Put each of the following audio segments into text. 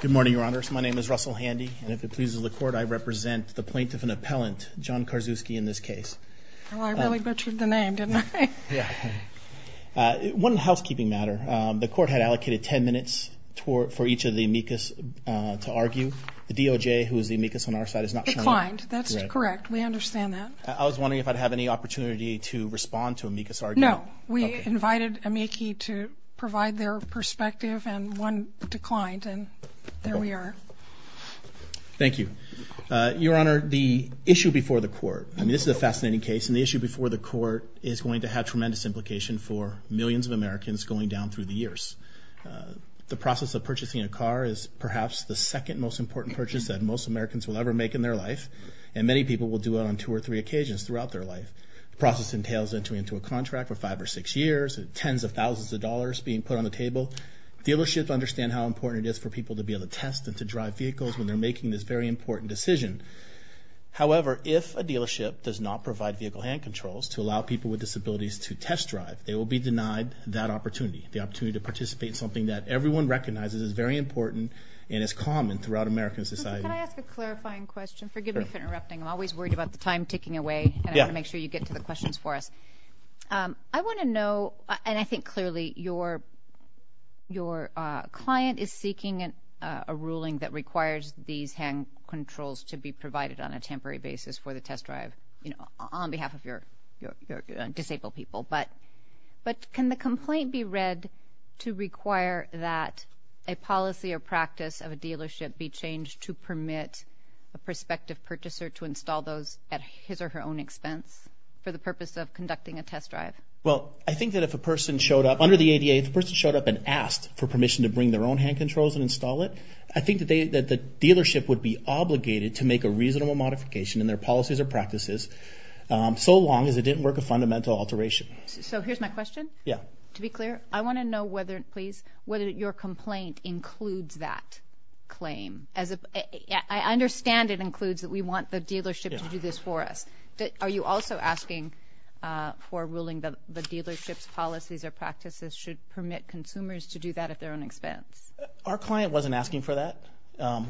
Good morning, your honors. My name is Russell Handy, and if it pleases the court, I represent the plaintiff and appellant, John Karczewski, in this case. Well, I really butchered the name, didn't I? Yeah. One housekeeping matter. The court had allocated ten minutes for each of the amicus to argue. The DOJ, who is the amicus on our side, is not showing up. That's correct. We understand that. I was wondering if I'd have any opportunity to respond to amicus argument. No. We invited amicus to provide their perspective, and one declined, and there we are. Thank you. Your honor, the issue before the court, I mean, this is a fascinating case, and the issue before the court is going to have tremendous implication for millions of Americans going down through the years. The process of purchasing a car is perhaps the second most important purchase that most Americans will ever make in their life, and many people will do it on two or three occasions throughout their life. The process entails entering into a contract for five or six years, tens of thousands of dollars being put on the table. Dealerships understand how important it is for people to be able to test and to drive vehicles when they're making this very important decision. However, if a dealership does not provide vehicle hand controls to allow people with disabilities to test drive, they will be denied that opportunity, the opportunity to participate in something that everyone recognizes is very important and is common throughout American society. Can I ask a clarifying question? Sure. Forgive me for interrupting. I'm always worried about the time ticking away, and I want to make sure you get to the questions for us. I want to know, and I think clearly your client is seeking a ruling that requires these hand controls to be provided on a temporary basis for the test drive on behalf of your disabled people, but can the complaint be read to require that a policy or practice of a dealership be changed to permit a prospective purchaser to install those at his or her own expense for the purpose of conducting a test drive? Well, I think that if a person showed up under the ADA, if a person showed up and asked for permission to bring their own hand controls and install it, I think that the dealership would be obligated to make a reasonable modification in their policies or practices so long as it didn't work a fundamental alteration. So here's my question. Yeah. To be clear, I want to know whether, please, whether your complaint includes that claim. I understand it includes that we want the dealership to do this for us. Are you also asking for a ruling that the dealership's policies or practices should permit consumers to do that at their own expense? Our client wasn't asking for that.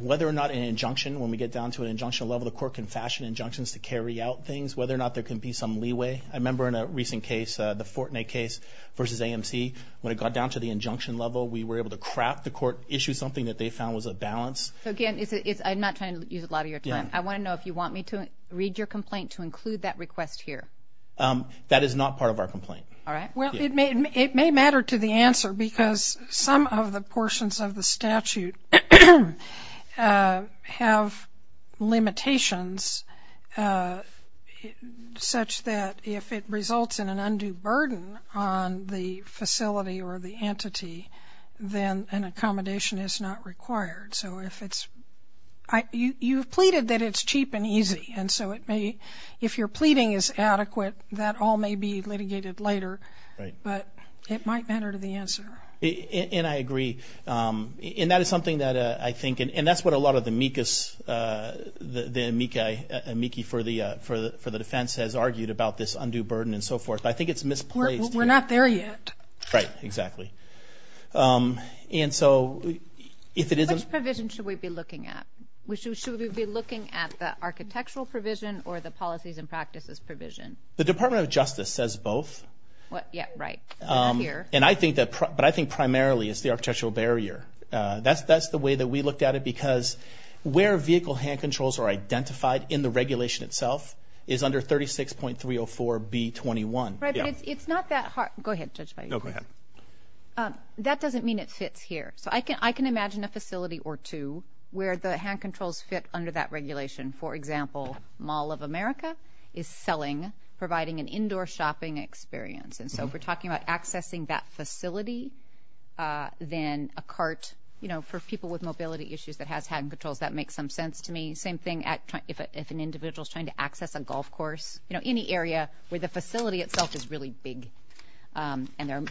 Whether or not an injunction, when we get down to an injunction level, the court can fashion injunctions to carry out things, whether or not there can be some leeway. I remember in a recent case, the Fortinet case versus AMC, when it got down to the injunction level, we were able to craft the court, issue something that they found was a balance. So, again, I'm not trying to use a lot of your time. Yeah. I want to know if you want me to read your complaint to include that request here. That is not part of our complaint. All right. Well, it may matter to the answer because some of the portions of the statute have limitations such that if it results in an undue burden on the facility or the entity, then an accommodation is not required. So if it's you've pleaded that it's cheap and easy. And so if your pleading is adequate, that all may be litigated later. Right. But it might matter to the answer. And I agree. And that is something that I think, and that's what a lot of the amici for the defense has argued about this undue burden and so forth. But I think it's misplaced. We're not there yet. Right. Exactly. And so if it isn't. Which provision should we be looking at? Should we be looking at the architectural provision or the policies and practices provision? The Department of Justice says both. Yeah, right. We're not here. But I think primarily it's the architectural barrier. That's the way that we looked at it because where vehicle hand controls are identified in the regulation itself is under 36.304B21. Right. But it's not that hard. Go ahead. No, go ahead. That doesn't mean it fits here. So I can imagine a facility or two where the hand controls fit under that regulation. For example, Mall of America is selling, providing an indoor shopping experience. And so if we're talking about accessing that facility, then a cart, you know, for people with mobility issues that has hand controls, that makes some sense to me. Same thing if an individual is trying to access a golf course, you know, any area where the facility itself is really big and there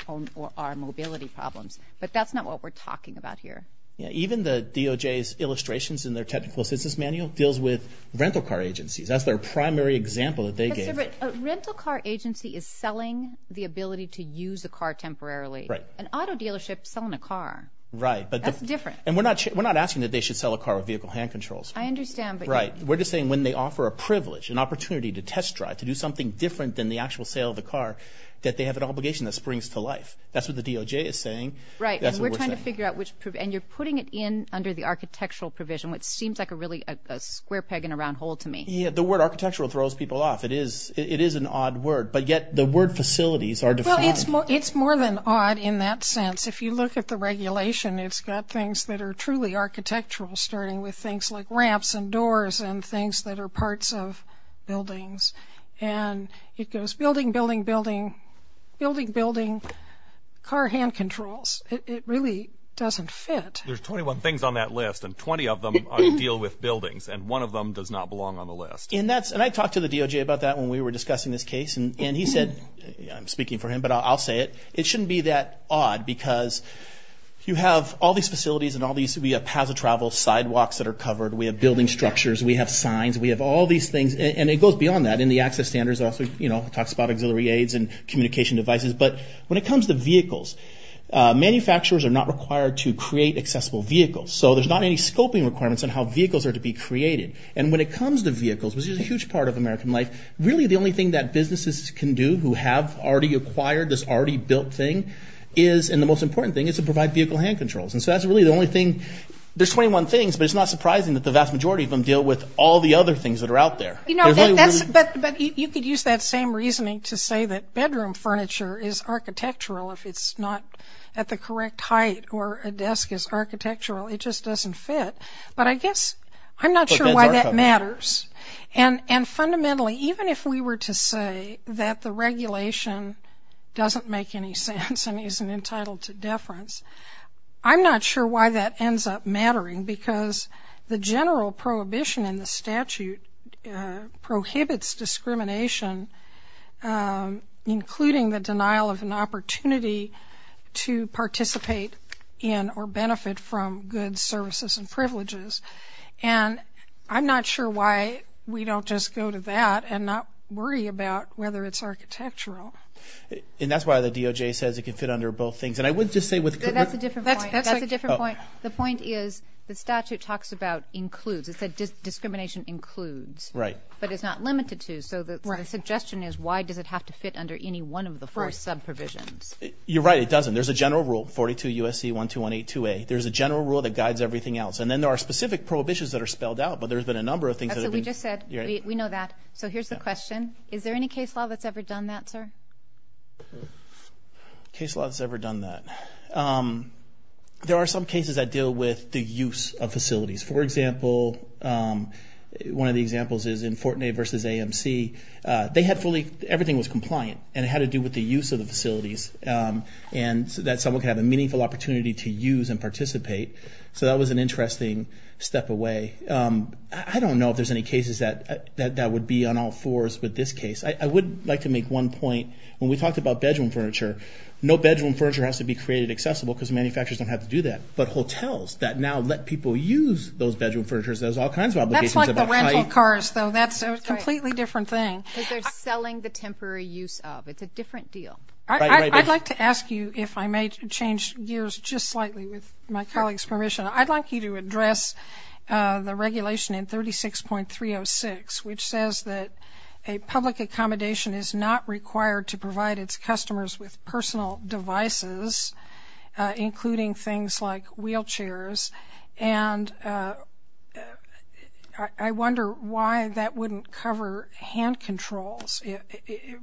are mobility problems. But that's not what we're talking about here. Yeah, even the DOJ's illustrations in their technical assistance manual deals with rental car agencies. That's their primary example that they gave. A rental car agency is selling the ability to use a car temporarily. Right. An auto dealership is selling a car. Right. That's different. And we're not asking that they should sell a car with vehicle hand controls. I understand. Right. We're just saying when they offer a privilege, an opportunity to test drive, to do something different than the actual sale of the car, that they have an obligation that springs to life. That's what the DOJ is saying. Right. That's what we're saying. We're trying to figure out which, and you're putting it in under the architectural provision, which seems like a really square peg in a round hole to me. Yeah, the word architectural throws people off. It is an odd word. But yet the word facilities are defined. Well, it's more than odd in that sense. If you look at the regulation, it's got things that are truly architectural, starting with things like ramps and doors and things that are parts of buildings. And it goes building, building, building, building, building, car hand controls. It really doesn't fit. There's 21 things on that list, and 20 of them deal with buildings, and one of them does not belong on the list. And I talked to the DOJ about that when we were discussing this case, and he said, I'm speaking for him, but I'll say it. It shouldn't be that odd because you have all these facilities and all these, we have paths of travel, sidewalks that are covered. We have building structures. We have signs. We have all these things. And it goes beyond that in the access standards. It also talks about auxiliary aids and communication devices. But when it comes to vehicles, manufacturers are not required to create accessible vehicles. So there's not any scoping requirements on how vehicles are to be created. And when it comes to vehicles, which is a huge part of American life, really the only thing that businesses can do who have already acquired this already built thing is, and the most important thing is to provide vehicle hand controls. And so that's really the only thing. There's 21 things, but it's not surprising that the vast majority of them deal with all the other things that are out there. But you could use that same reasoning to say that bedroom furniture is architectural if it's not at the correct height or a desk is architectural. It just doesn't fit. But I guess I'm not sure why that matters. And fundamentally, even if we were to say that the regulation doesn't make any sense and isn't entitled to deference, I'm not sure why that ends up mattering because the general prohibition in the statute prohibits discrimination, including the denial of an opportunity to participate in or benefit from goods, services, and privileges. And I'm not sure why we don't just go to that and not worry about whether it's architectural. And that's why the DOJ says it can fit under both things. And I would just say with – That's a different point. That's a different point. The point is the statute talks about includes. It said discrimination includes. Right. But it's not limited to. So the suggestion is why does it have to fit under any one of the four sub-provisions? You're right. It doesn't. There's a general rule, 42 U.S.C. 12182A. There's a general rule that guides everything else. And then there are specific prohibitions that are spelled out. But there's been a number of things that have been – That's what we just said. You're right. We know that. So here's the question. Is there any case law that's ever done that, sir? Case law that's ever done that. There are some cases that deal with the use of facilities. For example, one of the examples is in Fortinet versus AMC. They had fully – everything was compliant, and it had to do with the use of the facilities and that someone could have a meaningful opportunity to use and participate. So that was an interesting step away. I don't know if there's any cases that would be on all fours with this case. I would like to make one point. When we talked about bedroom furniture, no bedroom furniture has to be created accessible because manufacturers don't have to do that. But hotels that now let people use those bedroom furnitures, there's all kinds of obligations about height. That's like the rental cars, though. That's a completely different thing. Because they're selling the temporary use of. It's a different deal. I'd like to ask you if I may change gears just slightly with my colleague's permission. I'd like you to address the regulation in 36.306, which says that a public accommodation is not required to provide its customers with personal devices, including things like wheelchairs. And I wonder why that wouldn't cover hand controls,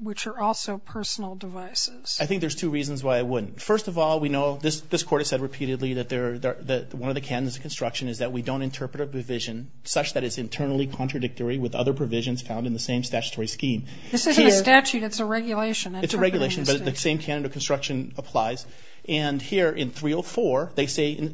which are also personal devices. I think there's two reasons why it wouldn't. First of all, we know this court has said repeatedly that one of the canons of construction is that we don't interpret a provision such that it's internally contradictory with other provisions found in the same statutory scheme. This isn't a statute. It's a regulation. It's a regulation, but the same canon of construction applies. And here in 304, they say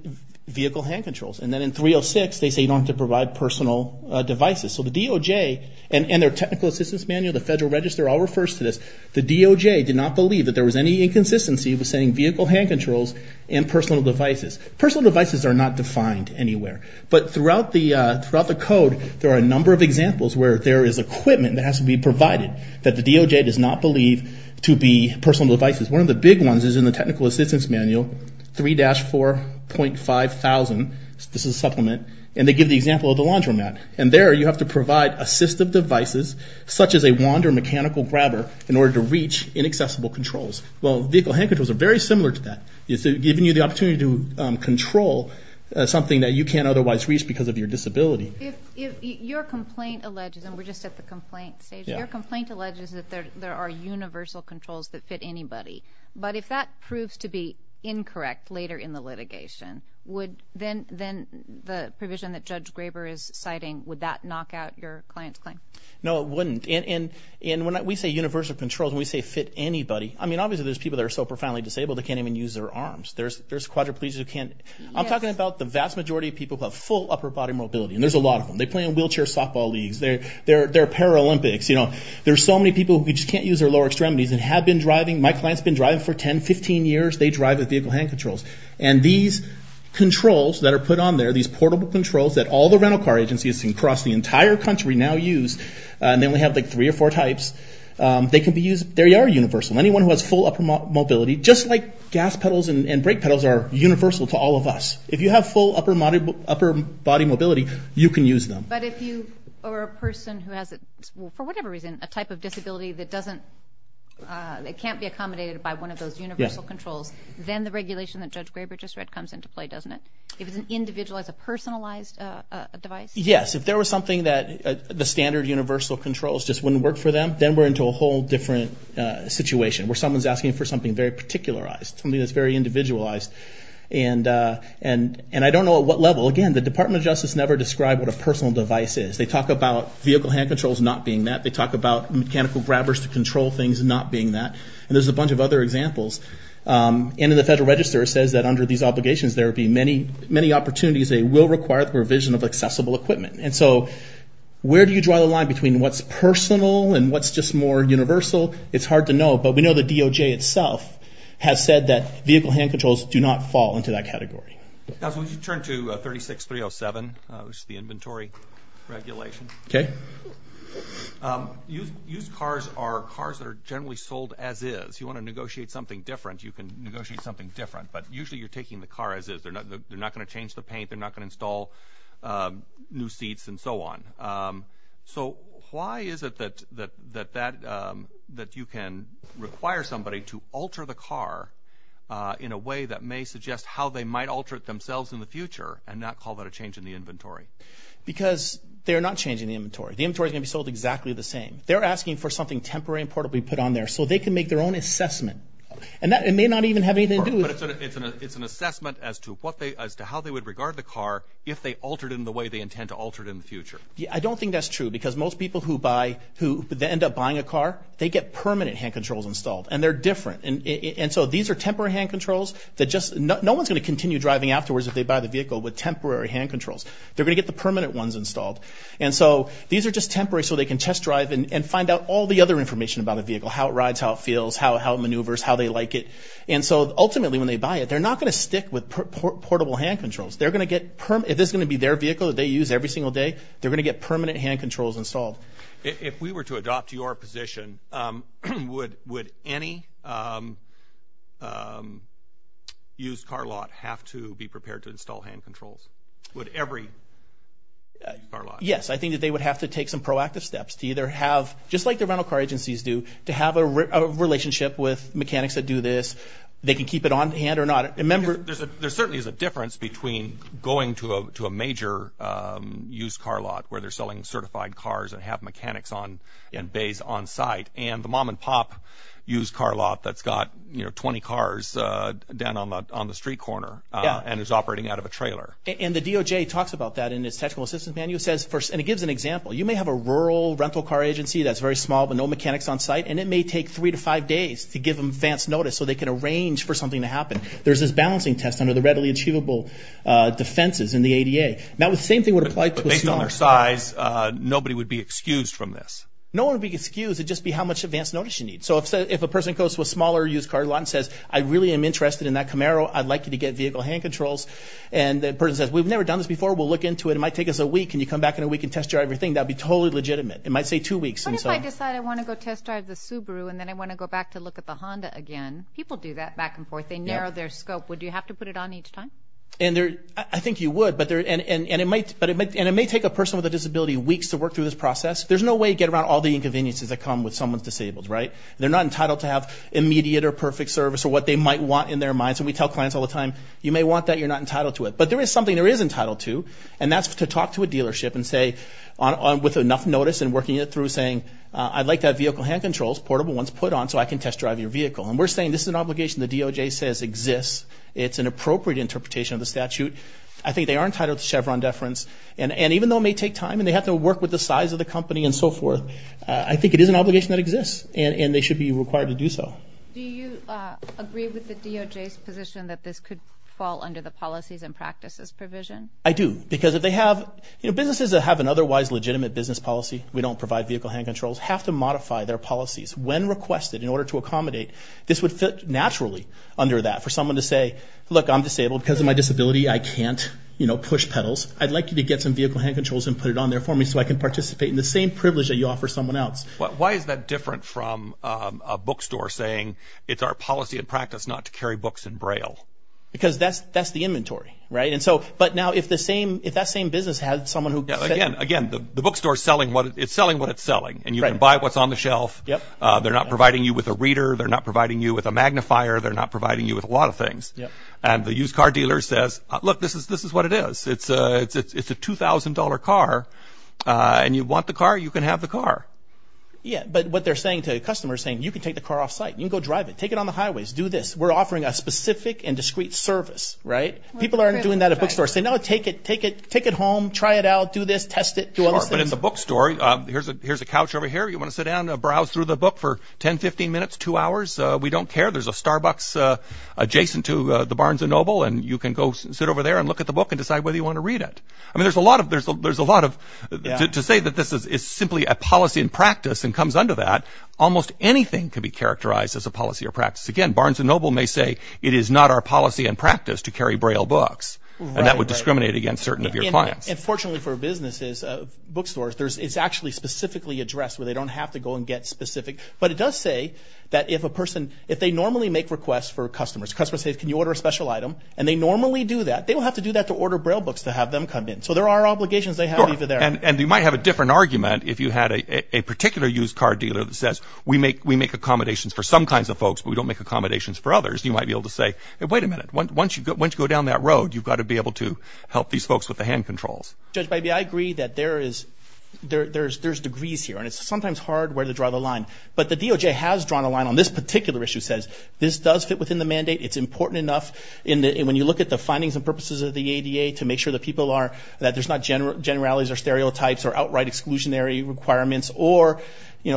vehicle hand controls. And then in 306, they say you don't have to provide personal devices. So the DOJ and their technical assistance manual, the Federal Register, all refers to this. The DOJ did not believe that there was any inconsistency with saying vehicle hand controls and personal devices. Personal devices are not defined anywhere. But throughout the code, there are a number of examples where there is equipment that has to be provided that the DOJ does not believe to be personal devices. One of the big ones is in the technical assistance manual, 3-4.5000. This is a supplement. And they give the example of the laundromat. And there you have to provide assistive devices, such as a wand or mechanical grabber, in order to reach inaccessible controls. Well, vehicle hand controls are very similar to that. It's giving you the opportunity to control something that you can't otherwise reach because of your disability. If your complaint alleges, and we're just at the complaint stage, if your complaint alleges that there are universal controls that fit anybody, but if that proves to be incorrect later in the litigation, then the provision that Judge Graber is citing, would that knock out your client's claim? No, it wouldn't. And when we say universal controls and we say fit anybody, I mean, obviously there's people that are so profoundly disabled they can't even use their arms. There's quadriplegics who can't. I'm talking about the vast majority of people who have full upper-body mobility. And there's a lot of them. They play in wheelchair softball leagues. They're Paralympics. There's so many people who just can't use their lower extremities and have been driving. My client's been driving for 10, 15 years. They drive with vehicle hand controls. And these controls that are put on there, these portable controls that all the rental car agencies across the entire country now use, and they only have, like, three or four types, they can be used. They are universal. Anyone who has full upper mobility, just like gas pedals and brake pedals are universal to all of us, if you have full upper-body mobility, you can use them. But if you are a person who has, for whatever reason, a type of disability that doesn't, it can't be accommodated by one of those universal controls, then the regulation that Judge Graber just read comes into play, doesn't it? If it's an individualized, a personalized device? Yes. If there was something that the standard universal controls just wouldn't work for them, then we're into a whole different situation where someone's asking for something very particularized, something that's very individualized. And I don't know at what level. Again, the Department of Justice never described what a personal device is. They talk about vehicle hand controls not being that. They talk about mechanical grabbers to control things not being that. And there's a bunch of other examples. And in the Federal Register it says that under these obligations there would be many opportunities. They will require the revision of accessible equipment. And so where do you draw the line between what's personal and what's just more universal? It's hard to know. But we know the DOJ itself has said that vehicle hand controls do not fall into that category. Counsel, would you turn to 36-307, which is the inventory regulation? Okay. Used cars are cars that are generally sold as is. You want to negotiate something different, you can negotiate something different. But usually you're taking the car as is. They're not going to change the paint. They're not going to install new seats and so on. So why is it that you can require somebody to alter the car in a way that may suggest how they might alter it themselves in the future and not call that a change in the inventory? Because they're not changing the inventory. The inventory is going to be sold exactly the same. They're asking for something temporary and portable to be put on there so they can make their own assessment. And that may not even have anything to do with it. But it's an assessment as to how they would regard the car if they altered it in the way they intend to alter it in the future. I don't think that's true because most people who end up buying a car, they get permanent hand controls installed. And they're different. And so these are temporary hand controls. No one's going to continue driving afterwards if they buy the vehicle with temporary hand controls. They're going to get the permanent ones installed. And so these are just temporary so they can test drive and find out all the other information about a vehicle, how it rides, how it feels, how it maneuvers, how they like it. And so ultimately when they buy it, they're not going to stick with portable hand controls. If this is going to be their vehicle that they use every single day, they're going to get permanent hand controls installed. If we were to adopt your position, would any used car lot have to be prepared to install hand controls? Would every used car lot? Yes. I think that they would have to take some proactive steps to either have, just like the rental car agencies do, to have a relationship with mechanics that do this. They can keep it on hand or not. There certainly is a difference between going to a major used car lot where they're selling certified cars and have mechanics and bays on site and the mom and pop used car lot that's got 20 cars down on the street corner and is operating out of a trailer. And the DOJ talks about that in its technical assistance manual. And it gives an example. You may have a rural rental car agency that's very small but no mechanics on site, and it may take three to five days to give them advance notice so they can arrange for something to happen. There's this balancing test under the readily achievable defenses in the ADA. Now, the same thing would apply to a smaller size. But based on their size, nobody would be excused from this? No one would be excused. It would just be how much advance notice you need. So if a person goes to a smaller used car lot and says, I really am interested in that Camaro, I'd like you to get vehicle hand controls, and the person says, we've never done this before, we'll look into it, it might take us a week, and you come back in a week and test drive your thing, that would be totally legitimate. It might say two weeks. What if I decide I want to go test drive the Subaru and then I want to go back to look at the Honda again? People do that back and forth. They narrow their scope. Would you have to put it on each time? I think you would. And it may take a person with a disability weeks to work through this process. There's no way to get around all the inconveniences that come with someone who's disabled, right? They're not entitled to have immediate or perfect service or what they might want in their mind. So we tell clients all the time, you may want that, you're not entitled to it. But there is something there is entitled to, and that's to talk to a dealership and say, with enough notice and working it through, saying, I'd like to have vehicle hand controls, portable ones, put on so I can test drive your vehicle. And we're saying this is an obligation the DOJ says exists. It's an appropriate interpretation of the statute. I think they are entitled to Chevron deference. And even though it may take time and they have to work with the size of the company and so forth, I think it is an obligation that exists and they should be required to do so. Do you agree with the DOJ's position that this could fall under the policies and practices provision? I do. Because if they have, you know, businesses that have an otherwise legitimate business policy, we don't provide vehicle hand controls, have to modify their policies when requested in order to accommodate. This would fit naturally under that for someone to say, look, I'm disabled. Because of my disability, I can't, you know, push pedals. I'd like you to get some vehicle hand controls and put it on there for me so I can participate in the same privilege that you offer someone else. Why is that different from a bookstore saying it's our policy and practice not to carry books in Braille? Because that's the inventory, right? And so, but now if the same, if that same business has someone who… Again, the bookstore is selling what it's selling and you can buy what's on the shelf. They're not providing you with a reader. They're not providing you with a magnifier. They're not providing you with a lot of things. And the used car dealer says, look, this is what it is. It's a $2,000 car and you want the car, you can have the car. Yeah, but what they're saying to the customer is saying you can take the car off site. You can go drive it. Take it on the highways. Do this. We're offering a specific and discreet service, right? People aren't doing that at bookstores. They're saying, no, take it home, try it out, do this, test it. Sure, but it's a bookstore. Here's a couch over here. You want to sit down and browse through the book for 10, 15 minutes, two hours. We don't care. There's a Starbucks adjacent to the Barnes & Noble and you can go sit over there and look at the book and decide whether you want to read it. I mean there's a lot of, to say that this is simply a policy and practice and comes under that, almost anything can be characterized as a policy or practice. Again, Barnes & Noble may say it is not our policy and practice to carry Braille books. And that would discriminate against certain of your clients. And fortunately for businesses, bookstores, it's actually specifically addressed where they don't have to go and get specific. But it does say that if a person, if they normally make requests for customers, customers say, can you order a special item? And they normally do that. They don't have to do that to order Braille books to have them come in. So there are obligations they have either there. And you might have a different argument if you had a particular used car dealer that says, we make accommodations for some kinds of folks, but we don't make accommodations for others. You might be able to say, wait a minute. Once you go down that road, you've got to be able to help these folks with the hand controls. Judge Bybee, I agree that there is, there's degrees here. And it's sometimes hard where to draw the line. But the DOJ has drawn a line on this particular issue, says this does fit within the mandate. It's important enough when you look at the findings and purposes of the ADA to make sure that people are, that there's not generalities or stereotypes or outright exclusionary requirements or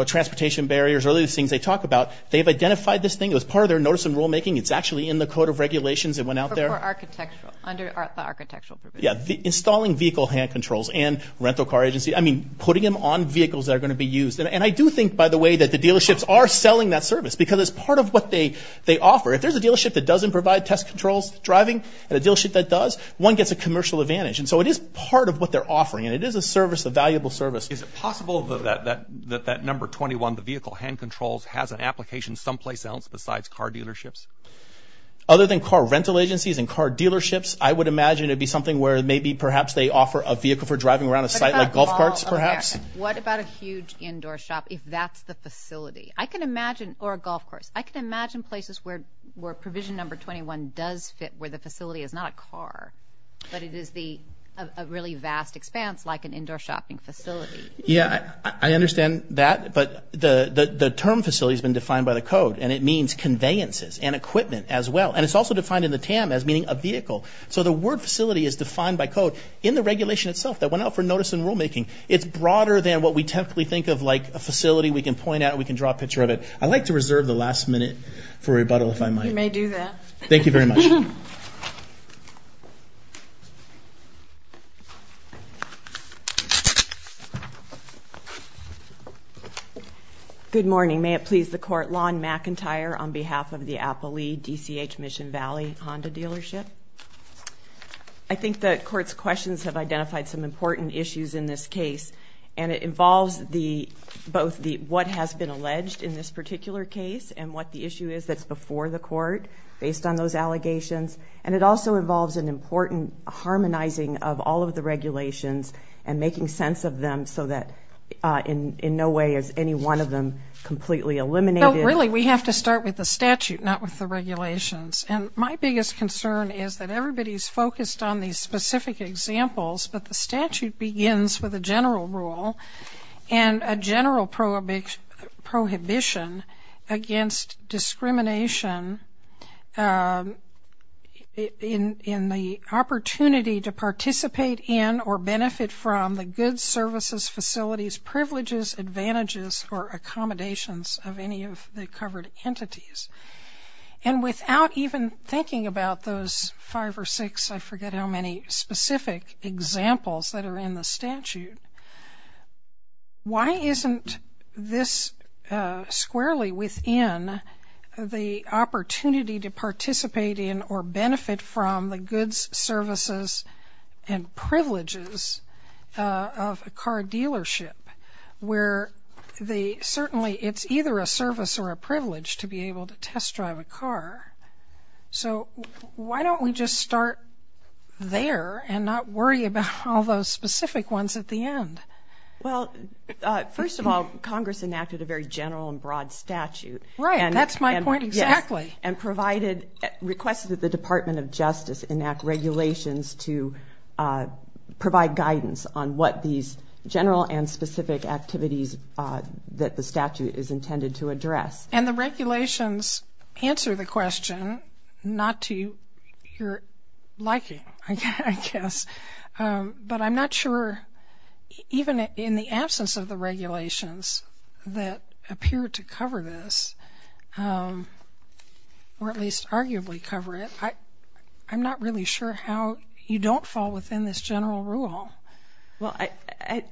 transportation barriers or those things they talk about. They've identified this thing as part of their notice and rulemaking. It's actually in the code of regulations that went out there. For architectural, under the architectural provision. Yeah. Installing vehicle hand controls and rental car agency, I mean, putting them on vehicles that are going to be used. And I do think, by the way, that the dealerships are selling that service because it's part of what they offer. If there's a dealership that doesn't provide test controls, driving, and a dealership that does, one gets a commercial advantage. And so it is part of what they're offering. And it is a service, a valuable service. Is it possible that that number 21, the vehicle hand controls, has an application someplace else besides car dealerships? Other than car rental agencies and car dealerships, I would imagine it would be something where maybe perhaps they offer a vehicle for driving around a site like golf carts perhaps. What about a huge indoor shop if that's the facility? I can imagine, or a golf course. I can imagine places where provision number 21 does fit where the facility is not a car, but it is a really vast expanse like an indoor shopping facility. Yeah, I understand that. But the term facility has been defined by the code, and it means conveyances and equipment as well. And it's also defined in the TAM as meaning a vehicle. So the word facility is defined by code in the regulation itself that went out for notice and rulemaking. It's broader than what we typically think of like a facility. We can point at it. We can draw a picture of it. I'd like to reserve the last minute for rebuttal if I might. You may do that. Thank you very much. Good morning. May it please the Court. Lon McIntyre on behalf of the Appalee DCH Mission Valley Honda dealership. I think the Court's questions have identified some important issues in this case, and it involves both what has been alleged in this particular case and what the issue is that's before the Court based on those allegations. And it also involves an important harmonizing of all of the regulations and making sense of them so that in no way is any one of them completely eliminated. No, really, we have to start with the statute, not with the regulations. And my biggest concern is that everybody's focused on these specific examples, but the statute begins with a general rule and a general prohibition against discrimination in the opportunity to participate in or benefit from the goods, services, facilities, privileges, advantages, or accommodations of any of the covered entities. And without even thinking about those five or six, I forget how many specific examples that are in the statute, why isn't this squarely within the opportunity to participate in or benefit from the goods, services, and privileges of a car dealership where certainly it's either a service or a privilege to be able to test drive a car? So why don't we just start there and not worry about all those specific ones at the end? Well, first of all, Congress enacted a very general and broad statute. Right, that's my point exactly. And requested that the Department of Justice enact regulations to provide guidance on what these general and specific activities that the statute is intended to address. And the regulations answer the question not to your liking, I guess, but I'm not sure even in the absence of the regulations that appear to cover this or at least arguably cover it, I'm not really sure how you don't fall within this general rule. Well,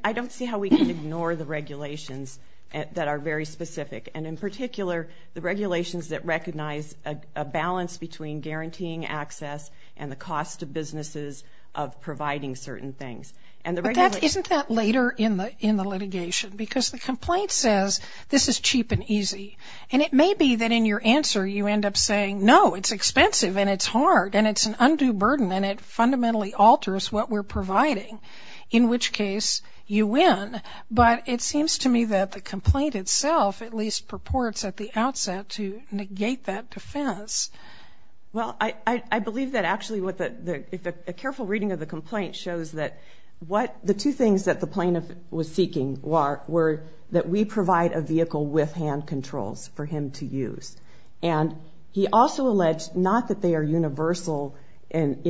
I don't see how we can ignore the regulations that are very specific and in particular the regulations that recognize a balance between guaranteeing access and the cost to businesses of providing certain things. But isn't that later in the litigation? Because the complaint says this is cheap and easy. And it may be that in your answer you end up saying, no, it's expensive and it's hard and it's an undue burden and it fundamentally alters what we're providing, in which case you win. But it seems to me that the complaint itself at least purports at the outset to negate that defense. Well, I believe that actually a careful reading of the complaint shows that the two things that the plaintiff was seeking were that we provide a vehicle with hand controls for him to use. And he also alleged not that they are universal in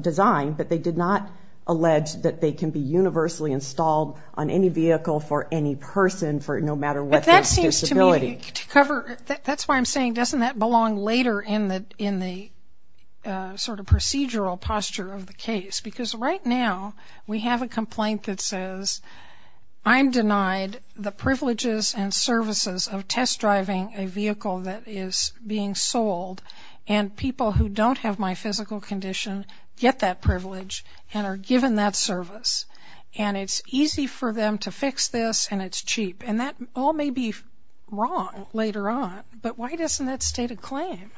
design, but they did not allege that they can be universally installed on any vehicle for any person, no matter what their disability. That's why I'm saying doesn't that belong later in the sort of procedural posture of the case? Because right now we have a complaint that says, I'm denied the privileges and services of test driving a vehicle that is being sold and people who don't have my physical condition get that privilege and are given that service. And it's easy for them to fix this and it's cheap. And that all may be wrong later on, but why doesn't that state a claim?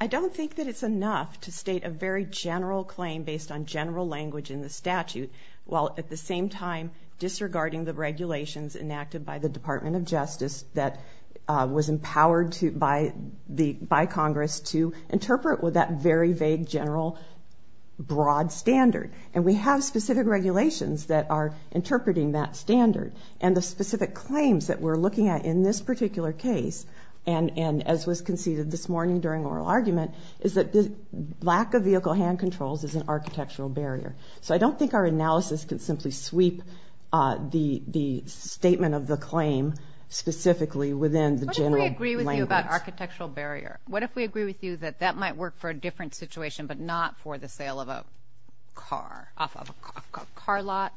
I don't think that it's enough to state a very general claim based on general language in the statute, while at the same time disregarding the regulations enacted by the Department of Justice that was empowered by Congress to interpret with that very vague, general, broad standard. And we have specific regulations that are interpreting that standard. And the specific claims that we're looking at in this particular case, and as was conceded this morning during oral argument, is that the lack of vehicle hand controls is an architectural barrier. So I don't think our analysis can simply sweep the statement of the claim specifically within the general language. What if we agree with you about architectural barrier? What if we agree with you that that might work for a different situation, but not for the sale of a car, off of a car lot?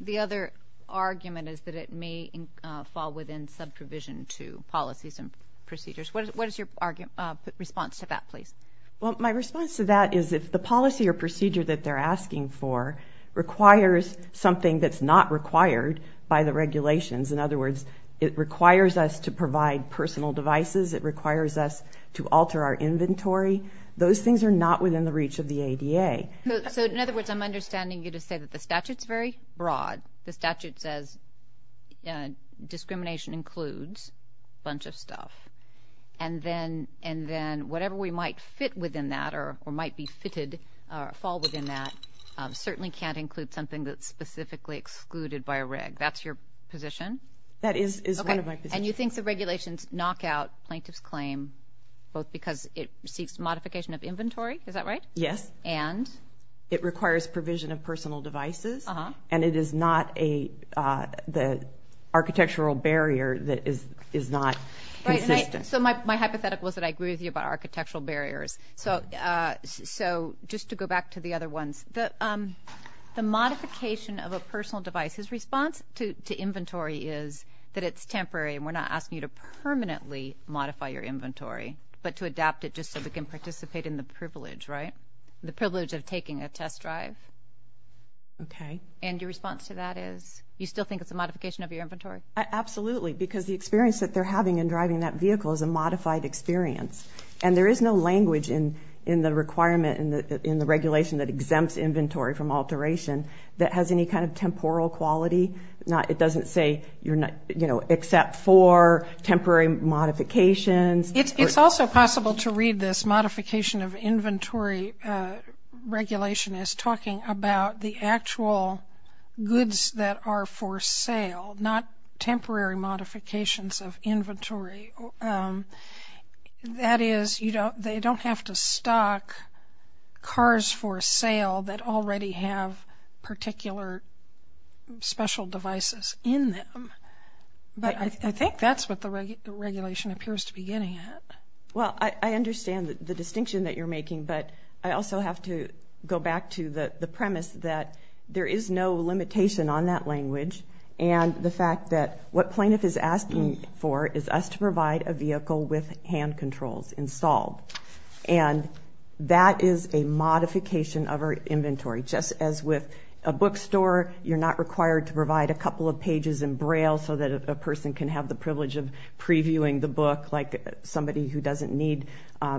The other argument is that it may fall within subprovision to policies and procedures. What is your response to that, please? Well, my response to that is if the policy or procedure that they're asking for requires something that's not required by the regulations, in other words, it requires us to provide personal devices, it requires us to alter our inventory, those things are not within the reach of the ADA. So in other words, I'm understanding you to say that the statute's very broad. The statute says discrimination includes a bunch of stuff. And then whatever we might fit within that or might be fitted or fall within that certainly can't include something that's specifically excluded by a reg. That's your position? That is one of my positions. And you think the regulations knock out plaintiff's claim, both because it seeks modification of inventory, is that right? Yes. And? It requires provision of personal devices, and it is not an architectural barrier that is not consistent. So my hypothetical is that I agree with you about architectural barriers. So just to go back to the other ones, the modification of a personal device, his response to inventory is that it's temporary and we're not asking you to permanently modify your inventory, but to adapt it just so we can participate in the privilege, right? The privilege of taking a test drive. Okay. And your response to that is you still think it's a modification of your inventory? Absolutely, because the experience that they're having in driving that vehicle is a modified experience. And there is no language in the requirement, in the regulation that exempts inventory from alteration that has any kind of temporal quality. It doesn't say except for temporary modifications. It's also possible to read this modification of inventory regulation as talking about the actual goods that are for sale, not temporary modifications of inventory. That is, they don't have to stock cars for sale that already have particular special devices in them. But I think that's what the regulation appears to be getting at. Well, I understand the distinction that you're making, but I also have to go back to the premise that there is no limitation on that language and the fact that what plaintiff is asking for is us to provide a vehicle with hand controls installed. And that is a modification of our inventory. Just as with a bookstore, you're not required to provide a couple of pages in Braille so that a person can have the privilege of previewing the book like somebody who doesn't need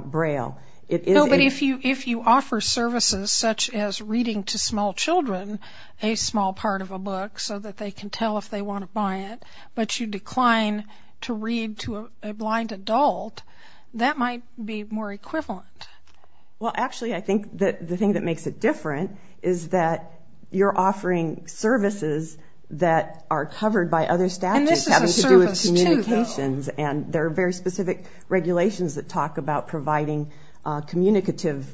Braille. No, but if you offer services such as reading to small children a small part of a book so that they can tell if they want to buy it, but you decline to read to a blind adult, that might be more equivalent. Well, actually, I think the thing that makes it different is that you're offering services that are covered by other statutes having to do with communications. And this is a service, too, though. And there are very specific regulations that talk about providing communicative,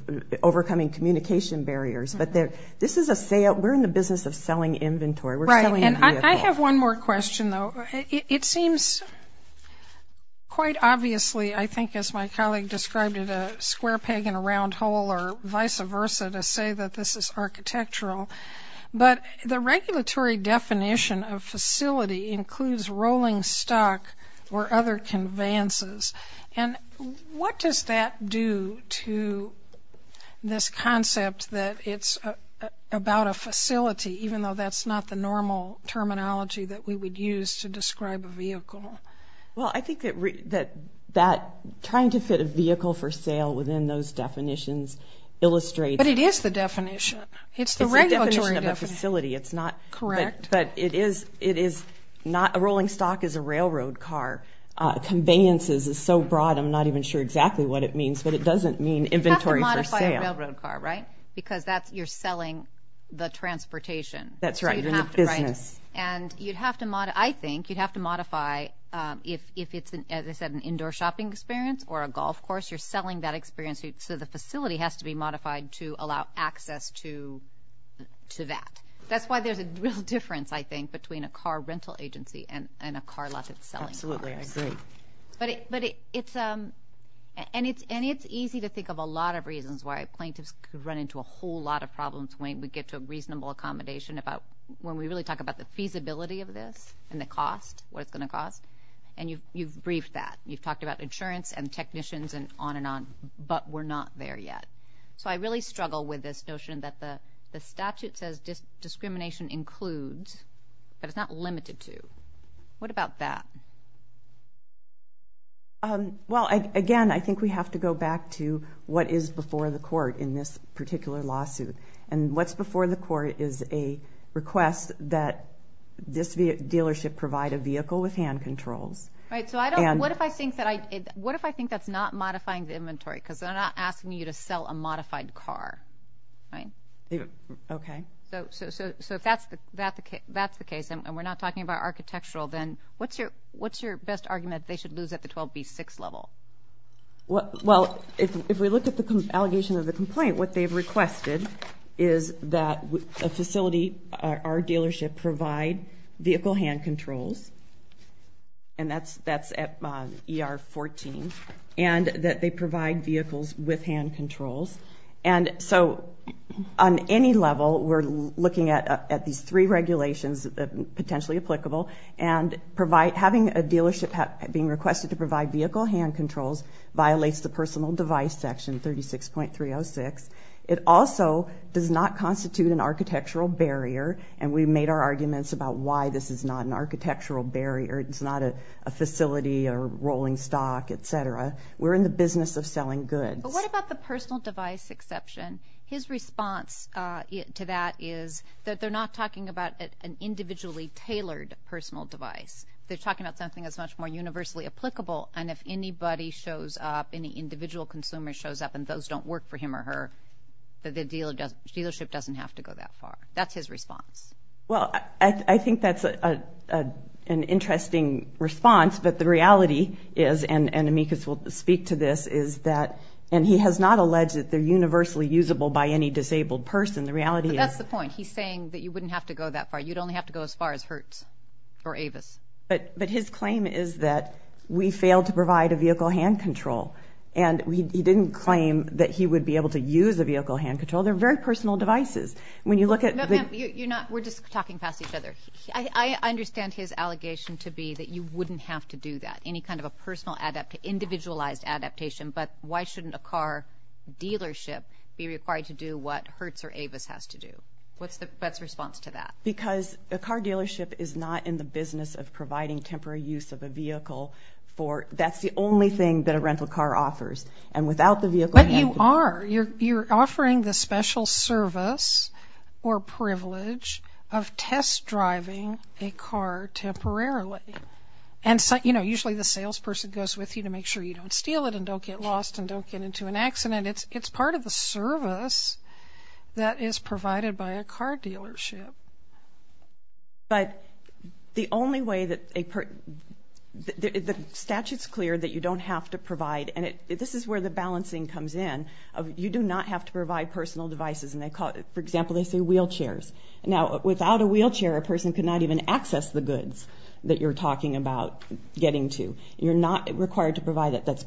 overcoming communication barriers. But this is a sale. We're in the business of selling inventory. We're selling a vehicle. Right, and I have one more question, though. It seems quite obviously, I think as my colleague described it, a square peg in a round hole or vice versa to say that this is architectural. But the regulatory definition of facility includes rolling stock or other conveyances. And what does that do to this concept that it's about a facility, even though that's not the normal terminology that we would use to describe a vehicle? Well, I think that trying to fit a vehicle for sale within those definitions illustrates. But it is the definition. It's the regulatory definition. It's the definition of a facility. Correct. But a rolling stock is a railroad car. Conveyances is so broad I'm not even sure exactly what it means, but it doesn't mean inventory for sale. You have to modify a railroad car, right, because you're selling the transportation. That's right, you're in the business. And I think you'd have to modify if it's, as I said, an indoor shopping experience or a golf course, you're selling that experience. So the facility has to be modified to allow access to that. That's why there's a real difference, I think, between a car rental agency and a car lot that's selling cars. Absolutely, I agree. And it's easy to think of a lot of reasons why plaintiffs run into a whole lot of problems when we get to a reasonable accommodation about when we really talk about the feasibility of this and the cost, what it's going to cost. And you've briefed that. You've talked about insurance and technicians and on and on, but we're not there yet. So I really struggle with this notion that the statute says discrimination includes, but it's not limited to. What about that? Well, again, I think we have to go back to what is before the court in this particular lawsuit. And what's before the court is a request that this dealership provide a vehicle with hand controls. Right, so what if I think that's not modifying the inventory because they're not asking you to sell a modified car, right? Okay. So if that's the case and we're not talking about architectural, then what's your best argument they should lose at the 12B6 level? Well, if we look at the allegation of the complaint, what they've requested is that a facility, our dealership, provide vehicle hand controls, and that's at ER 14, and that they provide vehicles with hand controls. And so on any level, we're looking at these three regulations that are potentially applicable, and having a dealership being requested to provide vehicle hand controls violates the personal device section, 36.306. It also does not constitute an architectural barrier, and we've made our arguments about why this is not an architectural barrier. It's not a facility or rolling stock, et cetera. We're in the business of selling goods. But what about the personal device exception? His response to that is that they're not talking about an individually tailored personal device. They're talking about something that's much more universally applicable, and if anybody shows up, any individual consumer shows up, and those don't work for him or her, the dealership doesn't have to go that far. That's his response. Well, I think that's an interesting response, but the reality is, and Amicus will speak to this, is that, and he has not alleged that they're universally usable by any disabled person. The reality is. But that's the point. He's saying that you wouldn't have to go that far. You'd only have to go as far as Hertz or Avis. But his claim is that we failed to provide a vehicle hand control, and he didn't claim that he would be able to use a vehicle hand control. They're very personal devices. No, ma'am, you're not. We're just talking past each other. I understand his allegation to be that you wouldn't have to do that. It's not any kind of a personal adaptation, individualized adaptation, but why shouldn't a car dealership be required to do what Hertz or Avis has to do? What's the best response to that? Because a car dealership is not in the business of providing temporary use of a vehicle. That's the only thing that a rental car offers, and without the vehicle hand control. But you are. You're offering the special service or privilege of test driving a car temporarily. And, you know, usually the salesperson goes with you to make sure you don't steal it and don't get lost and don't get into an accident. It's part of the service that is provided by a car dealership. But the only way that a person – the statute's clear that you don't have to provide, and this is where the balancing comes in. You do not have to provide personal devices. For example, they say wheelchairs. Now, without a wheelchair, a person cannot even access the goods that you're talking about getting to. You're not required to provide it. That's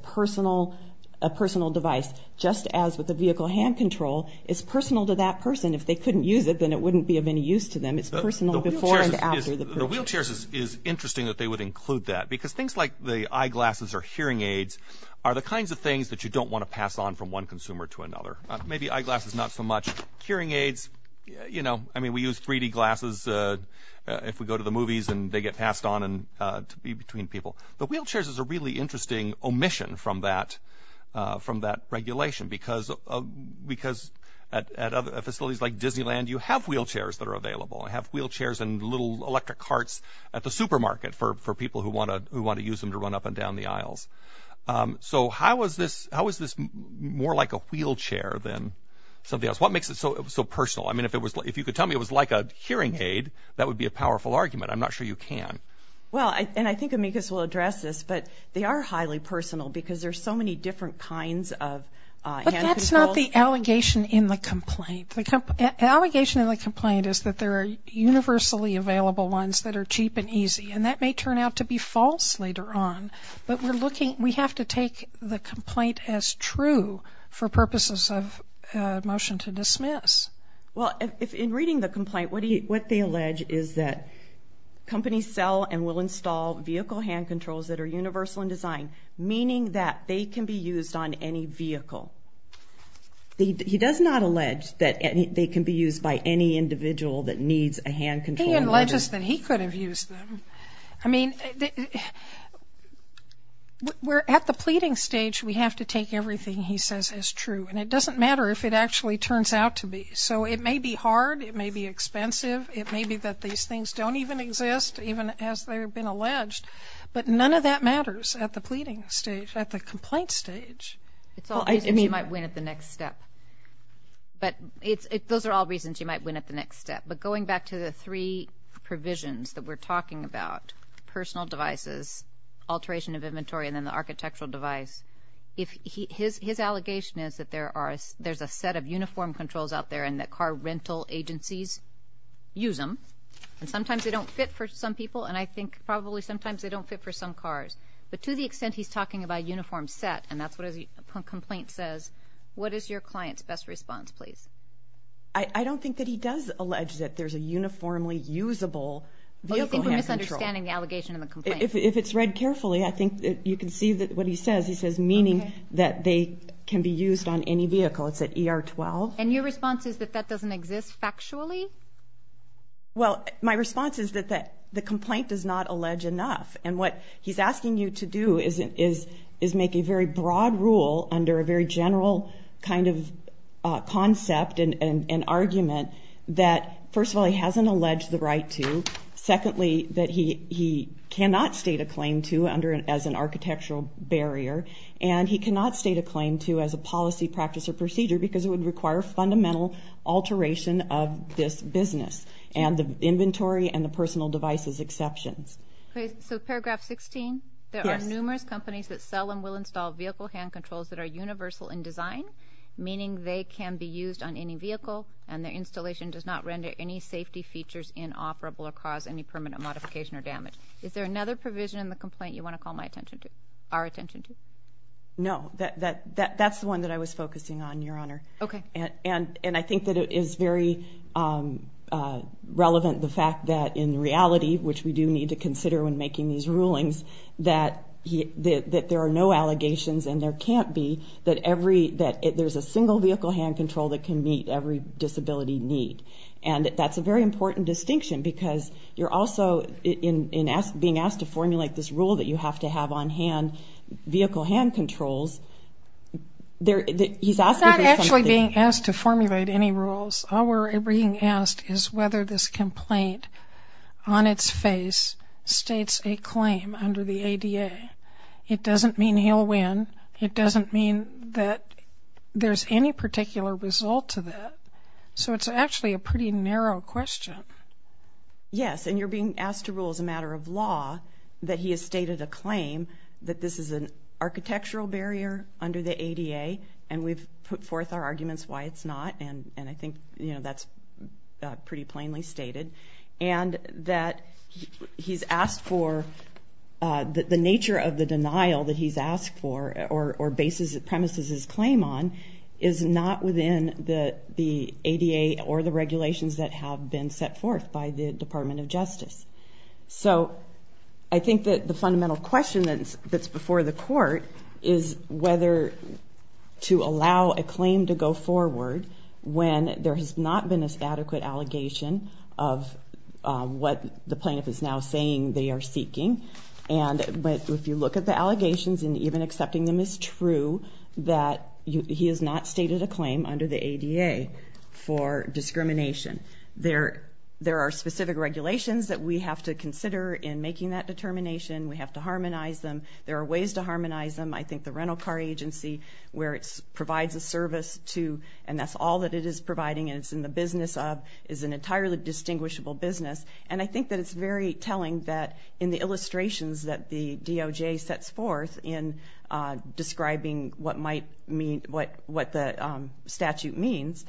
a personal device, just as with the vehicle hand control. It's personal to that person. If they couldn't use it, then it wouldn't be of any use to them. It's personal before and after the privilege. The wheelchairs is interesting that they would include that, because things like the eyeglasses or hearing aids are the kinds of things that you don't want to pass on from one consumer to another. Maybe eyeglasses not so much. Hearing aids, you know, I mean, we use 3D glasses if we go to the movies and they get passed on to be between people. But wheelchairs is a really interesting omission from that regulation, because at facilities like Disneyland, you have wheelchairs that are available. They have wheelchairs and little electric carts at the supermarket for people who want to use them to run up and down the aisles. So how is this more like a wheelchair than something else? What makes it so personal? I mean, if you could tell me it was like a hearing aid, that would be a powerful argument. I'm not sure you can. Well, and I think Amicus will address this, but they are highly personal because there are so many different kinds of hand controls. But that's not the allegation in the complaint. The allegation in the complaint is that there are universally available ones that are cheap and easy, and that may turn out to be false later on. But we have to take the complaint as true for purposes of motion to dismiss. Well, in reading the complaint, what they allege is that companies sell and will install vehicle hand controls that are universal in design, meaning that they can be used on any vehicle. He does not allege that they can be used by any individual that needs a hand control. He alleges that he could have used them. I mean, we're at the pleading stage. We have to take everything he says as true. And it doesn't matter if it actually turns out to be. So it may be hard. It may be expensive. It may be that these things don't even exist, even as they've been alleged. But none of that matters at the pleading stage, at the complaint stage. It's all reasons you might win at the next step. But those are all reasons you might win at the next step. But going back to the three provisions that we're talking about, personal devices, alteration of inventory, and then the architectural device, his allegation is that there's a set of uniform controls out there and that car rental agencies use them. And sometimes they don't fit for some people, and I think probably sometimes they don't fit for some cars. But to the extent he's talking about uniform set, and that's what his complaint says, what is your client's best response, please? I don't think that he does allege that there's a uniformly usable vehicle. I don't think we're misunderstanding the allegation in the complaint. If it's read carefully, I think you can see what he says. He says meaning that they can be used on any vehicle. It's at ER 12. And your response is that that doesn't exist factually? Well, my response is that the complaint does not allege enough. And what he's asking you to do is make a very broad rule under a very general kind of concept and argument that, first of all, he hasn't alleged the right to. Secondly, that he cannot state a claim to as an architectural barrier, and he cannot state a claim to as a policy, practice, or procedure because it would require fundamental alteration of this business and the inventory and the personal devices exceptions. So paragraph 16, there are numerous companies that sell and will install vehicle hand controls that are universal in design, meaning they can be used on any vehicle and their installation does not render any safety features inoperable or cause any permanent modification or damage. Is there another provision in the complaint you want to call our attention to? No. That's the one that I was focusing on, Your Honor. Okay. And I think that it is very relevant, the fact that in reality, which we do need to consider when making these rulings, that there are no allegations and there can't be, that there's a single vehicle hand control that can meet every disability need. And that's a very important distinction because you're also being asked to formulate this rule that you have to have on vehicle hand controls. I'm not actually being asked to formulate any rules. All we're being asked is whether this complaint on its face states a claim. It doesn't mean he'll win. It doesn't mean that there's any particular result to that. So it's actually a pretty narrow question. Yes, and you're being asked to rule as a matter of law that he has stated a claim that this is an architectural barrier under the ADA, and we've put forth our arguments why it's not, and I think that's pretty plainly stated. And that he's asked for, the nature of the denial that he's asked for or premises his claim on is not within the ADA or the regulations that have been set forth by the Department of Justice. So I think that the fundamental question that's before the court is whether to allow a claim to go forward when there has not been an adequate allegation of what the plaintiff is now saying they are seeking. But if you look at the allegations, and even accepting them is true, that he has not stated a claim under the ADA for discrimination. There are specific regulations that we have to consider in making that determination. We have to harmonize them. There are ways to harmonize them. I think the rental car agency, where it provides a service to, and that's all that it is providing and it's in the business of, is an entirely distinguishable business. And I think that it's very telling that in the illustrations that the DOJ sets forth in describing what the statute means,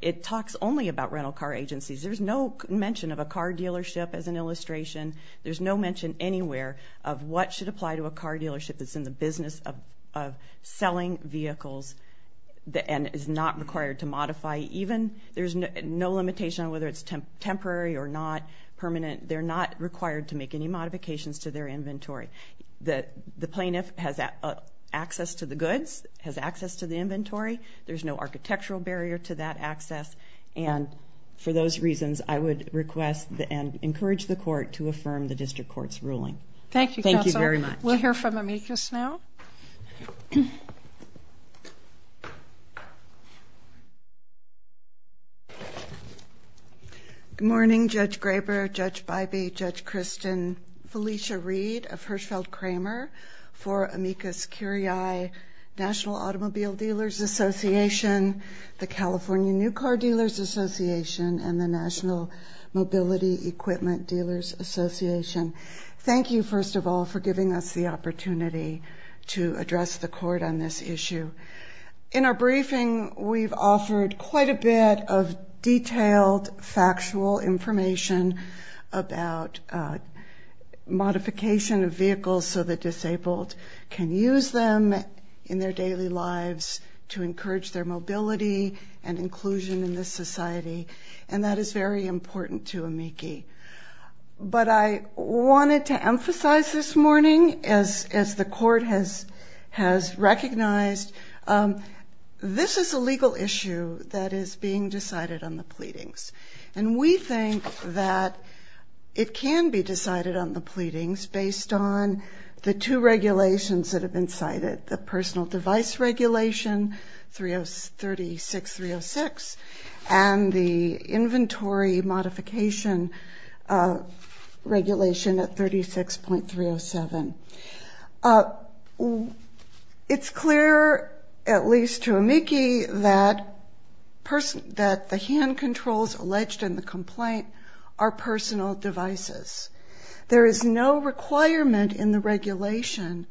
it talks only about rental car agencies. There's no mention of a car dealership as an illustration. There's no mention anywhere of what should apply to a car dealership that's in the business of selling vehicles and is not required to modify even. There's no limitation on whether it's temporary or not permanent. They're not required to make any modifications to their inventory. The plaintiff has access to the goods, has access to the inventory. There's no architectural barrier to that access. And for those reasons, I would request and encourage the court to affirm the district court's ruling. Thank you, Counselor. Thank you very much. We'll hear from Amicus now. Good morning, Judge Graber, Judge Bybee, Judge Kristen, Felicia Reed of Hirschfeld Kramer, for Amicus Curiae National Automobile Dealers Association, the California New Car Dealers Association, and the National Mobility Equipment Dealers Association. Thank you, first of all, for giving us the opportunity to address the court on this issue. In our briefing, we've offered quite a bit of detailed, factual information about modification of vehicles so that disabled can use them in their daily lives to encourage their mobility and inclusion in this society, and that is very important to Amici. But I wanted to emphasize this morning, as the court has recognized, this is a legal issue that is being decided on the pleadings. And we think that it can be decided on the pleadings based on the two regulations that have been cited, the Personal Device Regulation 36306 and the Inventory Modification Regulation at 36.307. It's clear, at least to Amici, that the hand controls alleged in the complaint are personal devices. There is no requirement in the regulation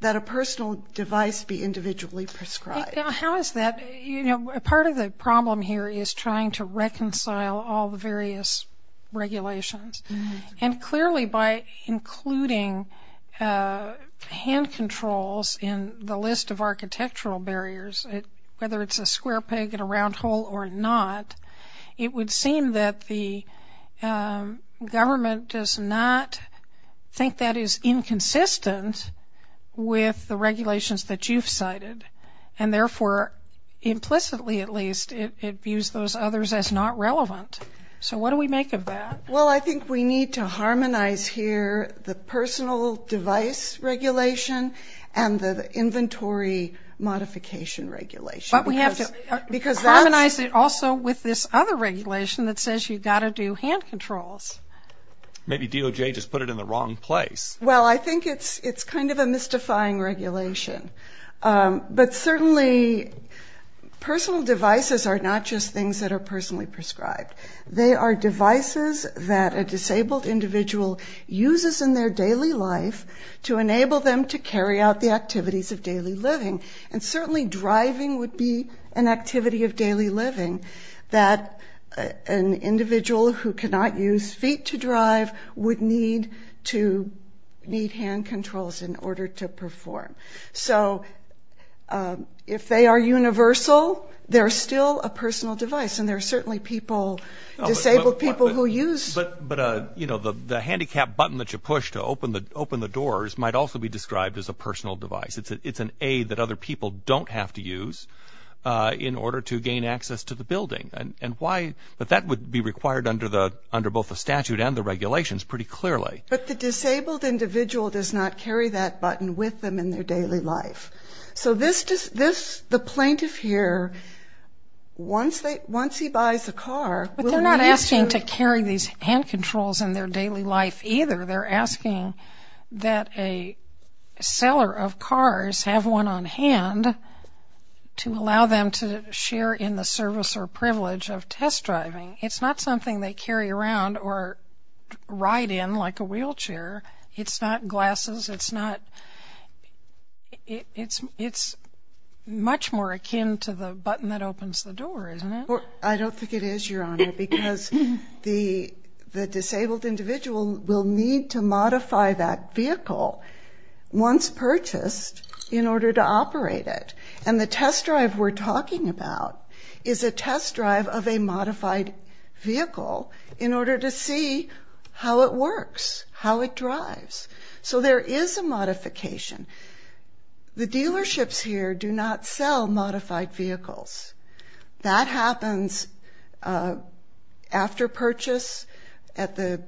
that a personal device be individually prescribed. How is that? You know, part of the problem here is trying to reconcile all the various regulations. And clearly, by including hand controls in the list of architectural barriers, whether it's a square peg in a round hole or not, it would seem that the government does not think that is inconsistent with the regulations that you've cited. And therefore, implicitly at least, it views those others as not relevant. So what do we make of that? Well, I think we need to harmonize here the Personal Device Regulation and the Inventory Modification Regulation. But we have to harmonize it also with this other regulation that says you've got to do hand controls. Maybe DOJ just put it in the wrong place. Well, I think it's kind of a mystifying regulation. But certainly personal devices are not just things that are personally prescribed. They are devices that a disabled individual uses in their daily life to enable them to carry out the activities of daily living. And certainly driving would be an activity of daily living that an individual who cannot use feet to drive would need hand controls in order to perform. So if they are universal, they're still a personal device. And there are certainly disabled people who use... But the handicap button that you push to open the doors might also be described as a personal device. It's an aid that other people don't have to use in order to gain access to the building. But that would be required under both the statute and the regulations pretty clearly. But the disabled individual does not carry that button with them in their daily life. So the plaintiff here, once he buys a car... But they're not asking to carry these hand controls in their daily life either. They're asking that a seller of cars have one on hand to allow them to share in the service or privilege of test driving. It's not something they carry around or ride in like a wheelchair. It's not glasses. It's not... It's much more akin to the button that opens the door, isn't it? I don't think it is, Your Honor, because the disabled individual will need to modify that vehicle once purchased in order to operate it. And the test drive we're talking about is a test drive of a modified vehicle in order to see how it works, how it drives. So there is a modification. The dealerships here do not sell modified vehicles. That happens after purchase at the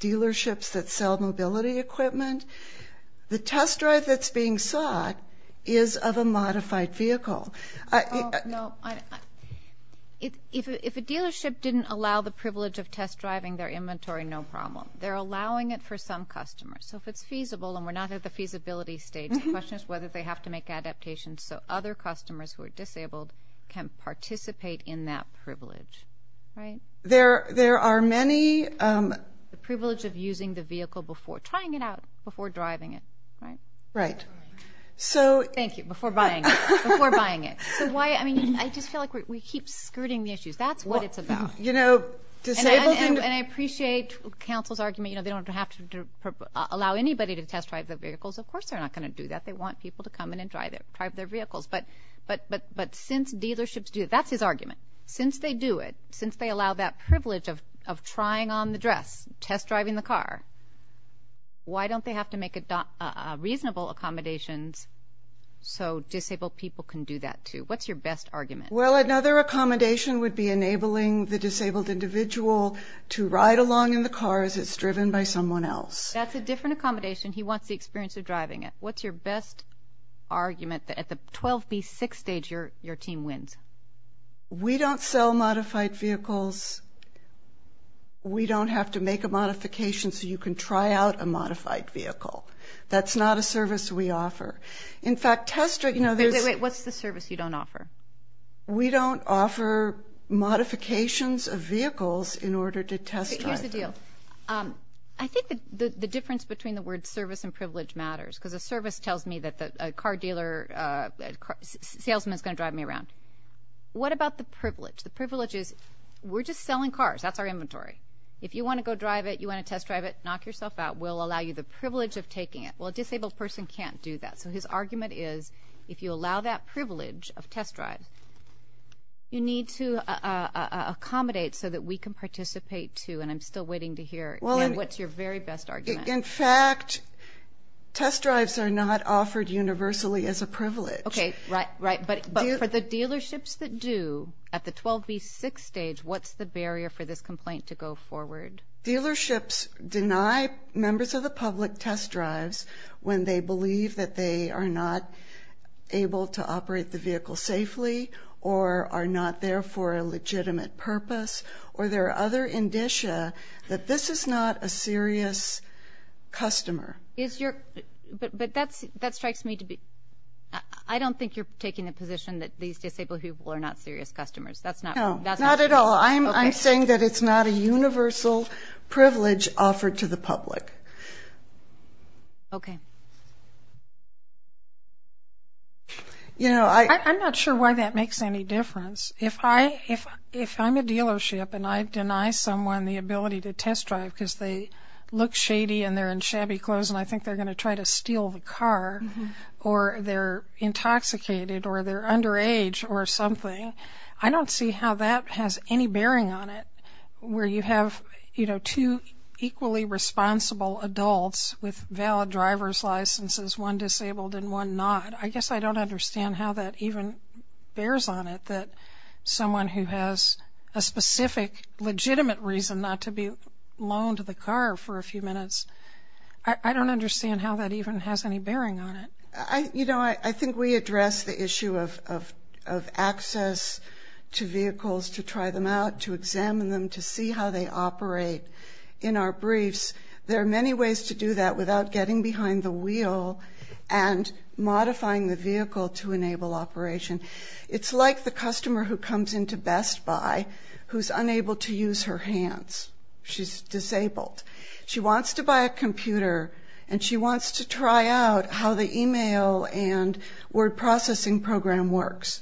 dealerships that sell mobility equipment. The test drive that's being sought is of a modified vehicle. No. If a dealership didn't allow the privilege of test driving their inventory, no problem. They're allowing it for some customers. So if it's feasible, and we're not at the feasibility stage, the question is whether they have to make adaptations so other customers who are disabled can participate in that privilege. There are many... The privilege of using the vehicle before trying it out, before driving it, right? Right. Thank you. Before buying it. I just feel like we keep skirting the issues. That's what it's about. And I appreciate counsel's argument. They don't have to allow anybody to test drive the vehicles. Of course they're not going to do that. They want people to come in and drive their vehicles. But since dealerships do it, that's his argument. Since they do it, since they allow that privilege of trying on the dress, test driving the car, why don't they have to make reasonable accommodations so disabled people can do that too? What's your best argument? Well, another accommodation would be enabling the disabled individual to ride along in the car as it's driven by someone else. That's a different accommodation. He wants the experience of driving it. What's your best argument that at the 12B6 stage your team wins? We don't sell modified vehicles. We don't have to make a modification so you can try out a modified vehicle. That's not a service we offer. In fact, test driving others. What's the service you don't offer? We don't offer modifications of vehicles in order to test drive them. Here's the deal. I think the difference between the words service and privilege matters because a service tells me that a car dealer, a salesman is going to drive me around. What about the privilege? The privilege is we're just selling cars. That's our inventory. If you want to go drive it, you want to test drive it, knock yourself out. We'll allow you the privilege of taking it. Well, a disabled person can't do that, so his argument is if you allow that privilege of test drive, you need to accommodate so that we can participate too, and I'm still waiting to hear what's your very best argument. In fact, test drives are not offered universally as a privilege. Okay, right, right. But for the dealerships that do, at the 12B6 stage, what's the barrier for this complaint to go forward? Dealerships deny members of the public test drives when they believe that they are not able to operate the vehicle safely or are not there for a legitimate purpose or their other indicia that this is not a serious customer. But that strikes me to be – I don't think you're taking the position that these disabled people are not serious customers. No, not at all. I'm saying that it's not a universal privilege offered to the public. Okay. I'm not sure why that makes any difference. If I'm a dealership and I deny someone the ability to test drive because they look shady and they're in shabby clothes and I think they're going to try to steal the car or they're intoxicated or they're underage or something, I don't see how that has any bearing on it, where you have two equally responsible adults with valid driver's licenses, one disabled and one not. I guess I don't understand how that even bears on it, that someone who has a specific legitimate reason not to be loaned the car for a few minutes, I don't understand how that even has any bearing on it. You know, I think we address the issue of access to vehicles to try them out, to examine them, to see how they operate in our briefs. There are many ways to do that without getting behind the wheel and modifying the vehicle to enable operation. It's like the customer who comes into Best Buy who's unable to use her hands. She's disabled. She wants to buy a computer and she wants to try out how the email and word processing program works.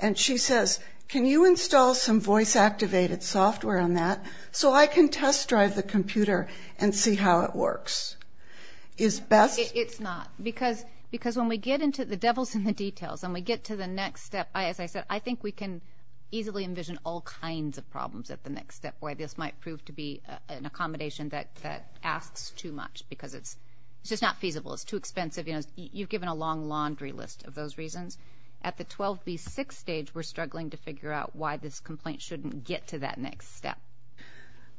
And she says, can you install some voice-activated software on that so I can test drive the computer and see how it works? It's not. Because when we get into the devil's in the details, when we get to the next step, as I said, I think we can easily envision all kinds of problems at the next step where this might prove to be an accommodation that asks too much because it's just not feasible. It's too expensive. You've given a long laundry list of those reasons. At the 12B6 stage, we're struggling to figure out why this complaint shouldn't get to that next step.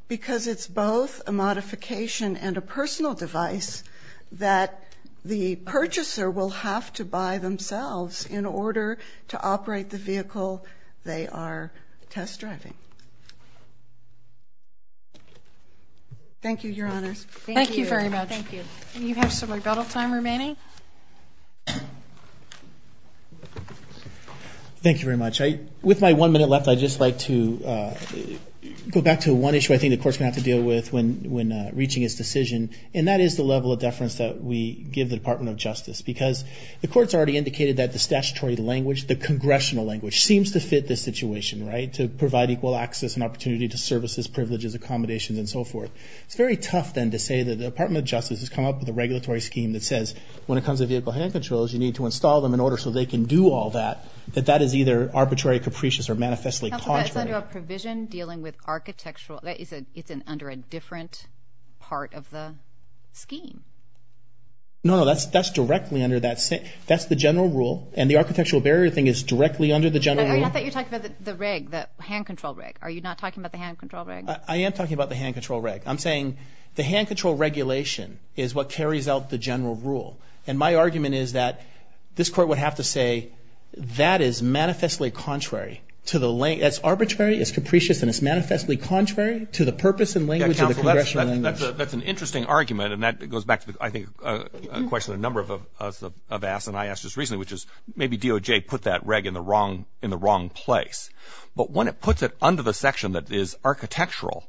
Because it's both a modification and a personal device that the purchaser will have to buy themselves in order to operate the vehicle they are test driving. Thank you, Your Honors. Thank you very much. Thank you. And you have some rebuttal time remaining. Thank you very much. With my one minute left, I'd just like to go back to one issue I think the Court's going to have to deal with when reaching its decision, and that is the level of deference that we give the Department of Justice. Because the Court's already indicated that the statutory language, the congressional language, seems to fit this situation, right, to provide equal access and opportunity to services, privileges, accommodations, and so forth. It's very tough, then, to say that the Department of Justice has come up with a regulatory scheme that says when it comes to vehicle hand controls, you need to install them in order so they can do all that, that that is either arbitrary, capricious, or manifestly contrary. That's under a provision dealing with architectural. It's under a different part of the scheme. No, no. That's directly under that. That's the general rule. And the architectural barrier thing is directly under the general rule. Not that you're talking about the reg, the hand control reg. Are you not talking about the hand control reg? I am talking about the hand control reg. I'm saying the hand control regulation is what carries out the general rule. And my argument is that this court would have to say that is manifestly contrary to the language. It's arbitrary, it's capricious, and it's manifestly contrary to the purpose and language of the congressional language. Yeah, counsel, that's an interesting argument, and that goes back to, I think, a question a number of us have asked, and I asked just recently, which is maybe DOJ put that reg in the wrong place. But when it puts it under the section that is architectural,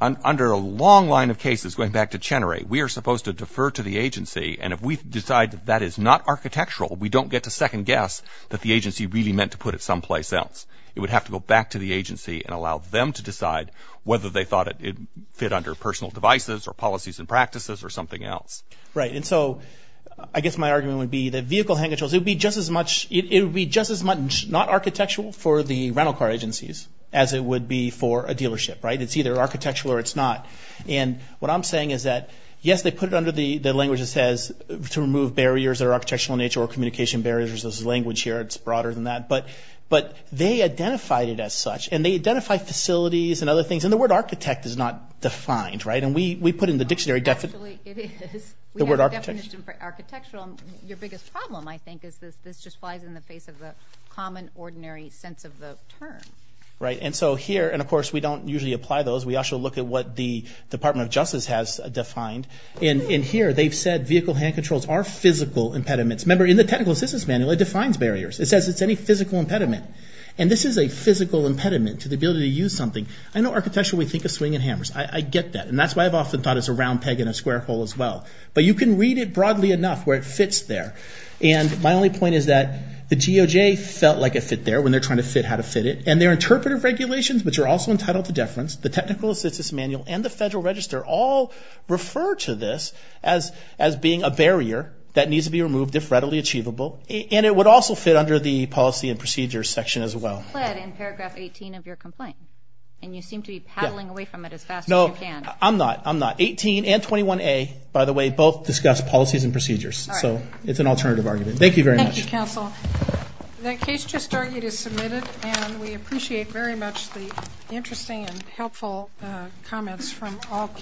under a long line of cases, going back to Chenery, we are supposed to defer to the agency, and if we decide that that is not architectural, we don't get to second guess that the agency really meant to put it someplace else. It would have to go back to the agency and allow them to decide whether they thought it fit under personal devices or policies and practices or something else. Right. And so I guess my argument would be the vehicle hand controls, it would be just as much not architectural for the rental car agencies as it would be for a dealership, right? It's either architectural or it's not. And what I'm saying is that, yes, they put it under the language that says to remove barriers that are architectural in nature or communication barriers. This is language here. It's broader than that. But they identified it as such, and they identified facilities and other things. And the word architect is not defined, right? And we put in the dictionary definition. Actually, it is. The word architect. We have a definition for architectural, and your biggest problem, I think, is this just flies in the face of the common, ordinary sense of the term. Right. And so here, and, of course, we don't usually apply those. We actually look at what the Department of Justice has defined. And here they've said vehicle hand controls are physical impediments. Remember, in the technical assistance manual, it defines barriers. It says it's any physical impediment. And this is a physical impediment to the ability to use something. I know architectural, we think of swinging hammers. I get that. And that's why I've often thought it's a round peg in a square hole as well. But you can read it broadly enough where it fits there. And my only point is that the GOJ felt like it fit there when they're trying to fit how to fit it. And there are interpretive regulations, which are also entitled to deference. The technical assistance manual and the Federal Register all refer to this as being a barrier that needs to be removed if readily achievable. And it would also fit under the policy and procedures section as well. You pled in paragraph 18 of your complaint. And you seem to be paddling away from it as fast as you can. No, I'm not. I'm not. 18 and 21A, by the way, both discuss policies and procedures. All right. So it's an alternative argument. Thank you very much. Thank you, counsel. That case just argued is submitted. And we appreciate very much the interesting and helpful comments from all candidates.